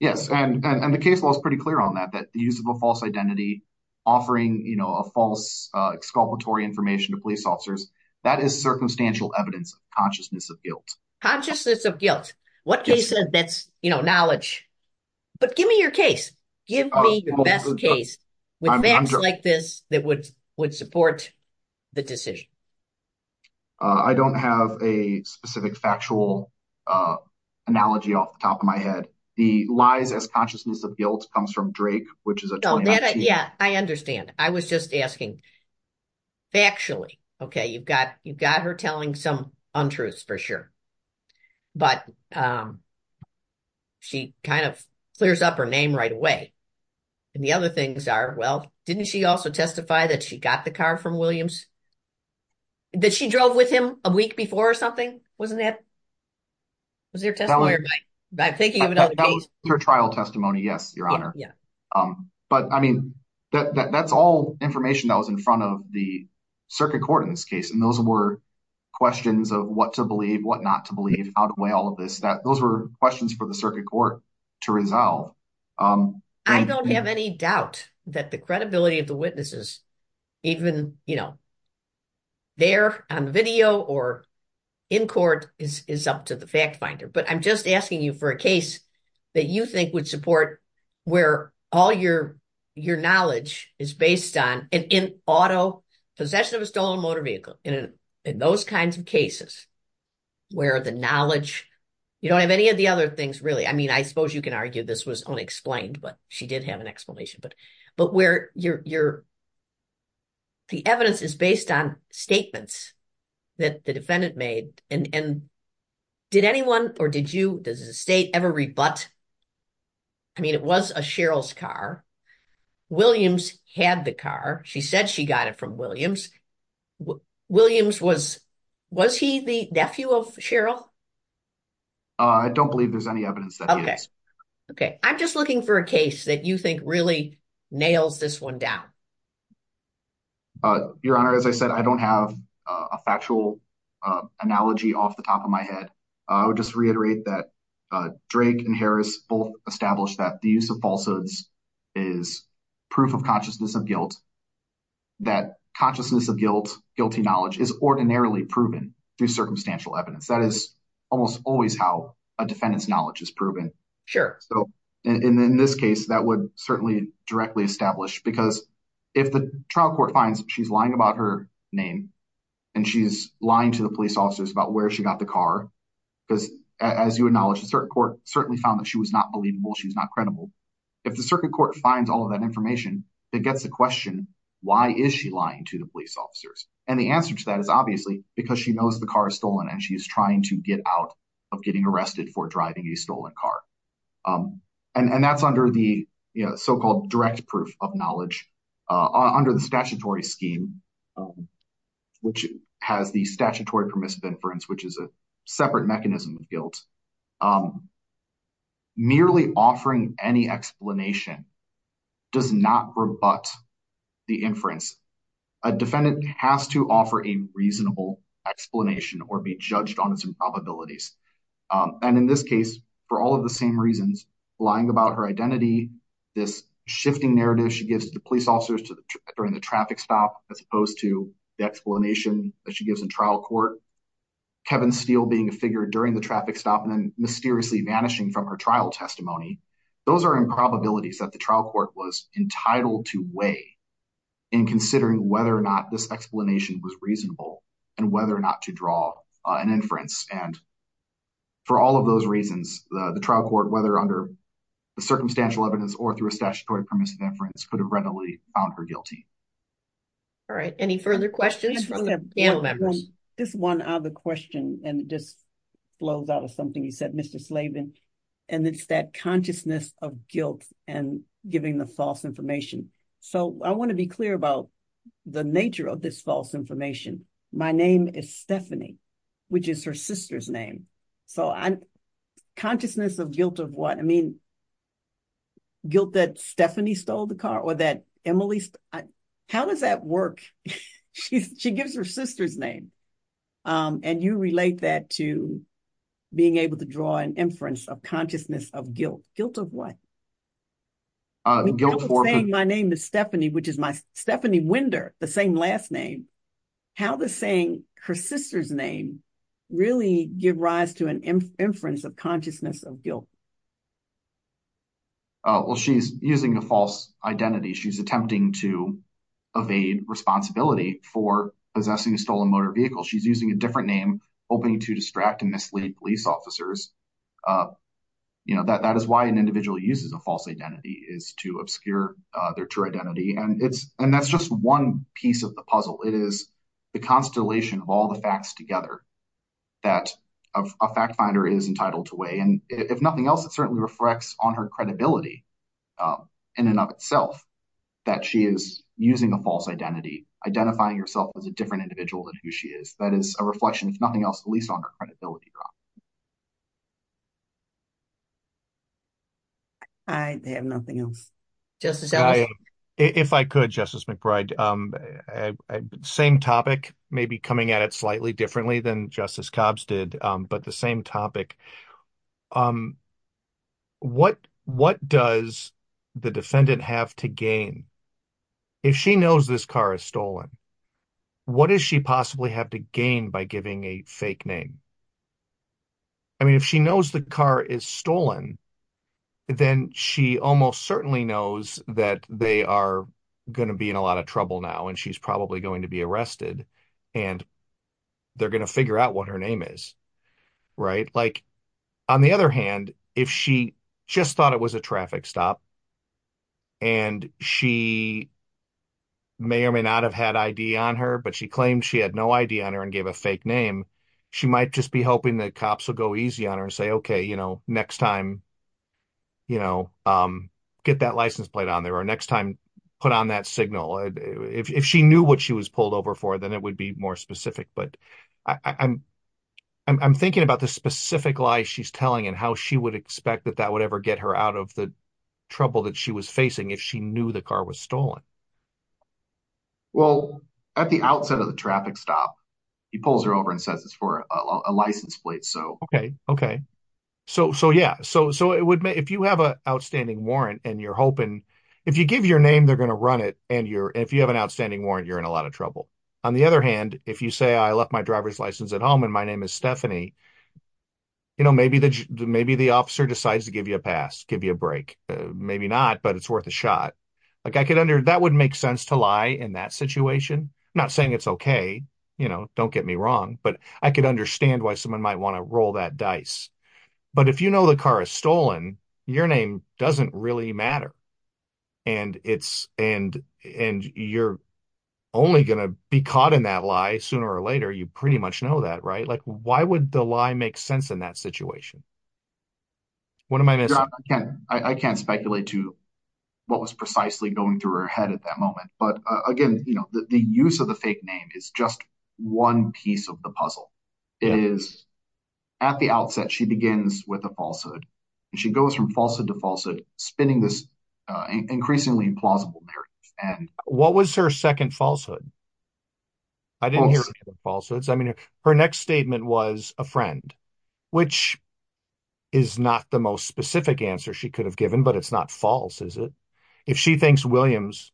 Yes, and the case was pretty clear on that, that the use of a false identity, offering, you know, a false exculpatory information to police officers, that is circumstantial evidence of consciousness of guilt. Consciousness of guilt. What case that's, you know, knowledge. But give me your case. Give me the best case with facts like this that would would support the decision. I don't have a specific factual analogy off the top of my head. The lies as consciousness of guilt comes from Drake, which is a. Yeah, I understand. I was just asking factually. Okay, you've got you've got her telling some untruths for sure, but she kind of clears up her name right away. And the other things are, well, didn't she also testify that she got the car from Williams? Did she drove with him a week before or something? Wasn't that. Was there testimony by thinking of her trial testimony? Yes, your honor. Yeah. But I mean, that's all information that was in front of the circuit court in this case. And those were questions of what to believe, what not to believe, how to weigh all of this, that those were questions for the circuit court to resolve. I don't have any doubt that the credibility of the witnesses, even, you know. They're on video or in court is up to the fact finder, but I'm just asking you for a case that you think would support where all your your knowledge is based on an auto possession of a stolen motor vehicle in those kinds of cases where the knowledge you don't have any of the other things, really. I mean, I suppose you can argue this was unexplained, but she did have an explanation. But but where you're. The evidence is based on statements that the defendant made and did anyone or did you? Does the state ever rebut? I mean, it was a Cheryl's car. Williams had the car. She said she got it from Williams. Williams was was he the nephew of Cheryl? I don't believe there's any evidence that. OK, I'm just looking for a case that you think really nails this one down. Your Honor, as I said, I don't have a factual analogy off the top of my head. I would just reiterate that Drake and Harris both established that the use of falsehoods is proof of consciousness of guilt. That consciousness of guilt, guilty knowledge is ordinarily proven through circumstantial evidence. That is almost always how a defendant's knowledge is proven. Sure. So in this case, that would certainly directly establish because if the trial court finds she's lying about her name and she's lying to the police officers about where she got the car, because as you acknowledge, the court certainly found that she was not believable. She's not credible. If the circuit court finds all of that information, it gets a question. Why is she lying to the police officers? And the answer to that is obviously because she knows the car is stolen and she is trying to get out of getting arrested for driving a stolen car. And that's under the so-called direct proof of knowledge under the statutory scheme, which has the statutory permissive inference, which is a separate mechanism of guilt. Merely offering any explanation does not rebut the inference. A defendant has to offer a reasonable explanation or be judged on some probabilities. And in this case, for all of the same reasons, lying about her identity, this shifting narrative she gives to the police officers during the traffic stop, as opposed to the explanation that she gives in trial court. Kevin Steele being a figure during the traffic stop and then mysteriously vanishing from her trial testimony. Those are improbabilities that the trial court was entitled to weigh in considering whether or not this explanation was reasonable and whether or not to draw an inference. And for all of those reasons, the trial court, whether under the circumstantial evidence or through a statutory permissive inference, could have readily found her guilty. All right. Any further questions from the panel members? Just one other question. And it just flows out of something you said, Mr. Slavin. And it's that consciousness of guilt and giving the false information. So I want to be clear about the nature of this false information. My name is Stephanie, which is her sister's name. So consciousness of guilt of what? I mean, guilt that Stephanie stole the car or that Emily? How does that work? She gives her sister's name. And you relate that to being able to draw an inference of consciousness of guilt. Guilt of what? My name is Stephanie, which is my Stephanie Winder, the same last name. How does saying her sister's name really give rise to an inference of consciousness of guilt? Well, she's using a false identity. She's attempting to evade responsibility for possessing a stolen motor vehicle. She's using a different name, hoping to distract and mislead police officers. That is why an individual uses a false identity is to obscure their true identity. And that's just one piece of the puzzle. It is the constellation of all the facts together that a fact finder is entitled to weigh. And if nothing else, it certainly reflects on her credibility in and of itself that she is using a false identity, identifying herself as a different individual than who she is. That is a reflection, if nothing else, at least on her credibility. I have nothing else. If I could, Justice McBride, same topic, maybe coming at it slightly differently than Justice Cobbs did, but the same topic. What what does the defendant have to gain if she knows this car is stolen? What does she possibly have to gain by giving a fake name? I mean, if she knows the car is stolen, then she almost certainly knows that they are going to be in a lot of trouble now and she's probably going to be arrested and they're going to figure out what her name is. Right. Like, on the other hand, if she just thought it was a traffic stop. And she may or may not have had ID on her, but she claimed she had no ID on her and gave a fake name. She might just be hoping that cops will go easy on her and say, OK, you know, next time, you know, get that license plate on there or next time put on that signal. If she knew what she was pulled over for, then it would be more specific. But I'm I'm thinking about the specific lie she's telling and how she would expect that that would ever get her out of the trouble that she was facing if she knew the car was stolen. Well, at the outset of the traffic stop, he pulls her over and says it's for a license plate. OK, OK. So so, yeah, so so it would be if you have an outstanding warrant and you're hoping if you give your name, they're going to run it. And you're if you have an outstanding warrant, you're in a lot of trouble. On the other hand, if you say I left my driver's license at home and my name is Stephanie. You know, maybe the maybe the officer decides to give you a pass, give you a break. Maybe not, but it's worth a shot. Like I could under that would make sense to lie in that situation, not saying it's OK. You know, don't get me wrong, but I could understand why someone might want to roll that dice. But if you know the car is stolen, your name doesn't really matter. And it's and and you're only going to be caught in that lie sooner or later. You pretty much know that. Right. Like, why would the lie make sense in that situation? What am I missing? I can't speculate to what was precisely going through her head at that moment. But again, you know, the use of the fake name is just one piece of the puzzle. It is at the outset. She begins with a falsehood. She goes from falsehood to falsehood, spinning this increasingly implausible narrative. And what was her second falsehood? I didn't hear falsehoods. I mean, her next statement was a friend. Which. Is not the most specific answer she could have given, but it's not false, is it? If she thinks Williams.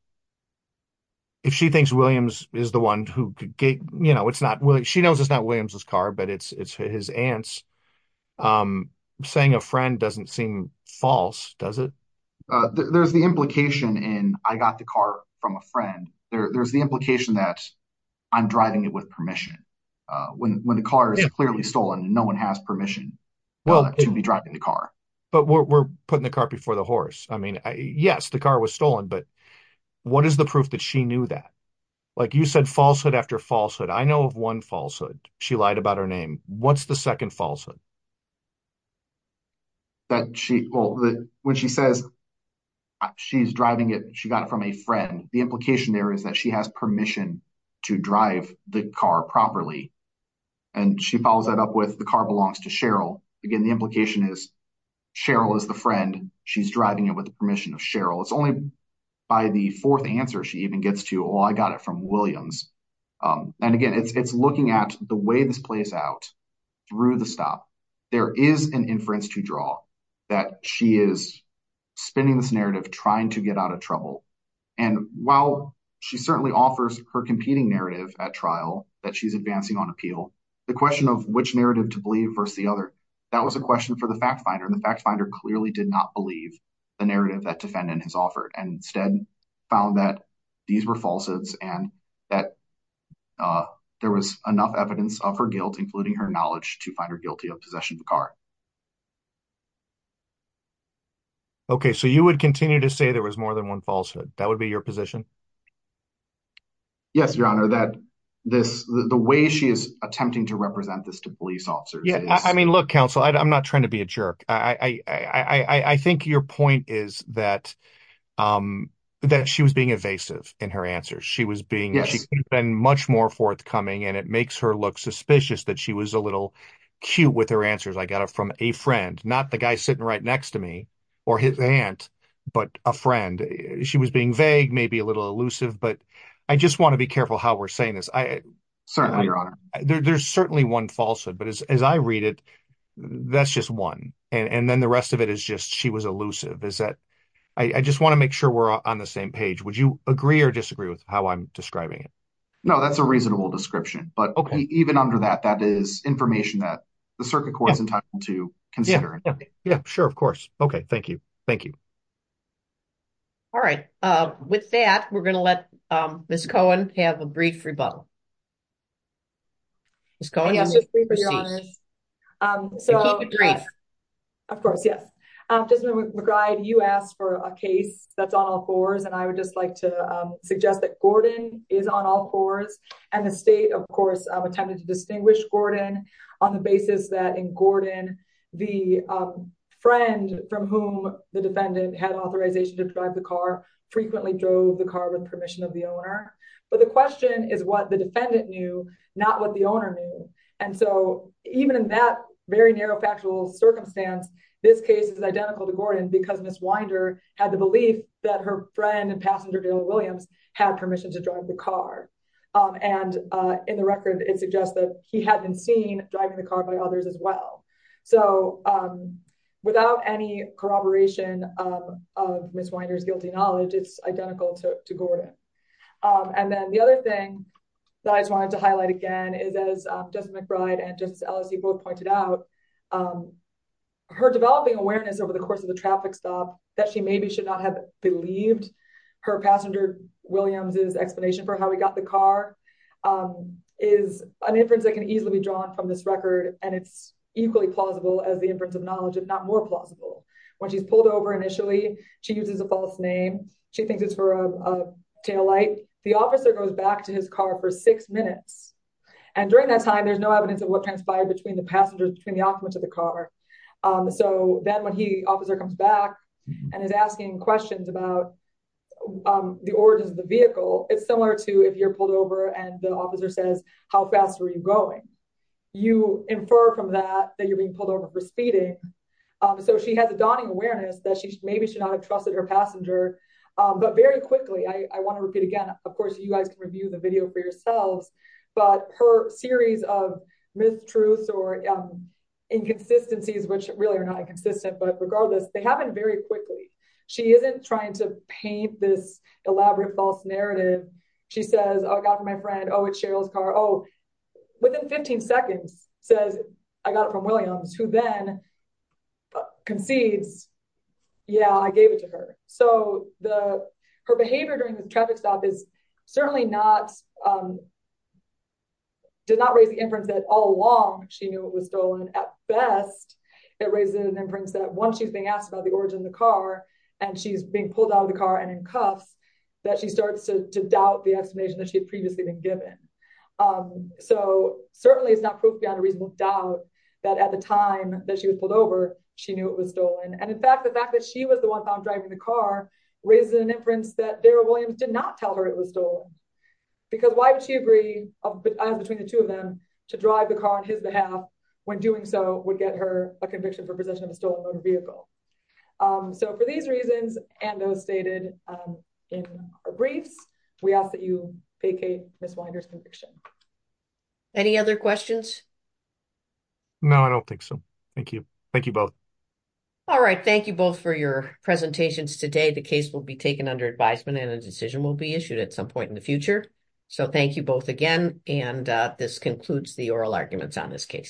If she thinks Williams is the one who, you know, it's not. Well, she knows it's not Williams's car, but it's his aunt's saying a friend doesn't seem false, does it? There's the implication in I got the car from a friend. There's the implication that I'm driving it with permission when the car is clearly stolen. And no one has permission to be driving the car. But we're putting the car before the horse. I mean, yes, the car was stolen. But what is the proof that she knew that? Like you said, falsehood after falsehood. I know of one falsehood. She lied about her name. What's the second falsehood? That she, well, when she says she's driving it, she got it from a friend. The implication there is that she has permission to drive the car properly. And she follows that up with the car belongs to Cheryl. Again, the implication is Cheryl is the friend. She's driving it with the permission of Cheryl. It's only by the fourth answer she even gets to, oh, I got it from Williams. And again, it's looking at the way this plays out through the stop. There is an inference to draw that she is spinning this narrative, trying to get out of trouble. And while she certainly offers her competing narrative at trial that she's advancing on appeal, the question of which narrative to believe versus the other, that was a question for the fact finder. And the fact finder clearly did not believe the narrative that defendant has offered and instead found that these were falsehoods and that there was enough evidence of her guilt, including her knowledge to find her guilty of possession of the car. OK, so you would continue to say there was more than one falsehood. That would be your position. Yes, your honor, that this the way she is attempting to represent this to police officers. Yeah, I mean, look, counsel, I'm not trying to be a jerk. I think your point is that that she was being evasive in her answers. She was being she's been much more forthcoming. And it makes her look suspicious that she was a little cute with her answers. I got it from a friend, not the guy sitting right next to me or his aunt, but a friend. She was being vague, maybe a little elusive. But I just want to be careful how we're saying this. Certainly, your honor. There's certainly one falsehood, but as I read it, that's just one. And then the rest of it is just she was elusive. Is that I just want to make sure we're on the same page. Would you agree or disagree with how I'm describing it? No, that's a reasonable description. But even under that, that is information that the circuit court is entitled to consider. Yeah, sure. Of course. Okay, thank you. Thank you. All right. With that, we're going to let Miss Cohen have a brief rebuttal. It's going to be for your honor. So, of course, yes. Desmond McBride, you asked for a case that's on all fours. And I would just like to suggest that Gordon is on all fours. And the state, of course, attempted to distinguish Gordon on the basis that in Gordon, the friend from whom the defendant had authorization to drive the car frequently drove the car with permission of the owner. But the question is what the defendant knew, not what the owner knew. And so even in that very narrow factual circumstance, this case is identical to Gordon because Miss Winder had the belief that her friend and passenger, Dale Williams, had permission to drive the car. And in the record, it suggests that he had been seen driving the car by others as well. So without any corroboration of Miss Winder's guilty knowledge, it's identical to Gordon. And then the other thing that I just wanted to highlight again is, as Desmond McBride and Justice Ellisie both pointed out, her developing awareness over the course of the traffic stop that she maybe should not have believed her passenger Williams's explanation for how he got the car is an inference that can easily be drawn from this record. And it's equally plausible as the inference of knowledge, if not more plausible. When she's pulled over initially, she uses a false name. She thinks it's for a taillight. The officer goes back to his car for six minutes. And during that time, there's no evidence of what transpired between the passengers, between the occupants of the car. So then when the officer comes back and is asking questions about the origins of the vehicle, it's similar to if you're pulled over and the officer says, how fast are you going? You infer from that that you're being pulled over for speeding. So she has a daunting awareness that maybe she should not have trusted her passenger. But very quickly, I want to repeat again, of course, you guys can review the video for yourselves, but her series of mistruths or inconsistencies, which really are not inconsistent, but regardless, they happen very quickly. She isn't trying to paint this elaborate false narrative. She says, oh, I got it from my friend. Oh, it's Cheryl's car. Oh, within 15 seconds, says, I got it from Williams, who then concedes, yeah, I gave it to her. So her behavior during the traffic stop certainly did not raise the inference that all along she knew it was stolen. At best, it raises an inference that once she's being asked about the origin of the car and she's being pulled out of the car and in cuffs, that she starts to doubt the explanation that she had previously been given. So certainly it's not proof beyond a reasonable doubt that at the time that she was pulled over, she knew it was stolen. And in fact, the fact that she was the one found driving the car raises an inference that Darrell Williams did not tell her it was stolen. Because why would she agree, as between the two of them, to drive the car on his behalf when doing so would get her a conviction for possession of a stolen motor vehicle? So for these reasons and those stated in our briefs, we ask that you vacate Ms. Winder's conviction. Any other questions? No, I don't think so. Thank you. Thank you both. All right. Thank you both for your presentations today. The case will be taken under advisement and a decision will be issued at some point in the future. So thank you both again. And this concludes the oral arguments on this case.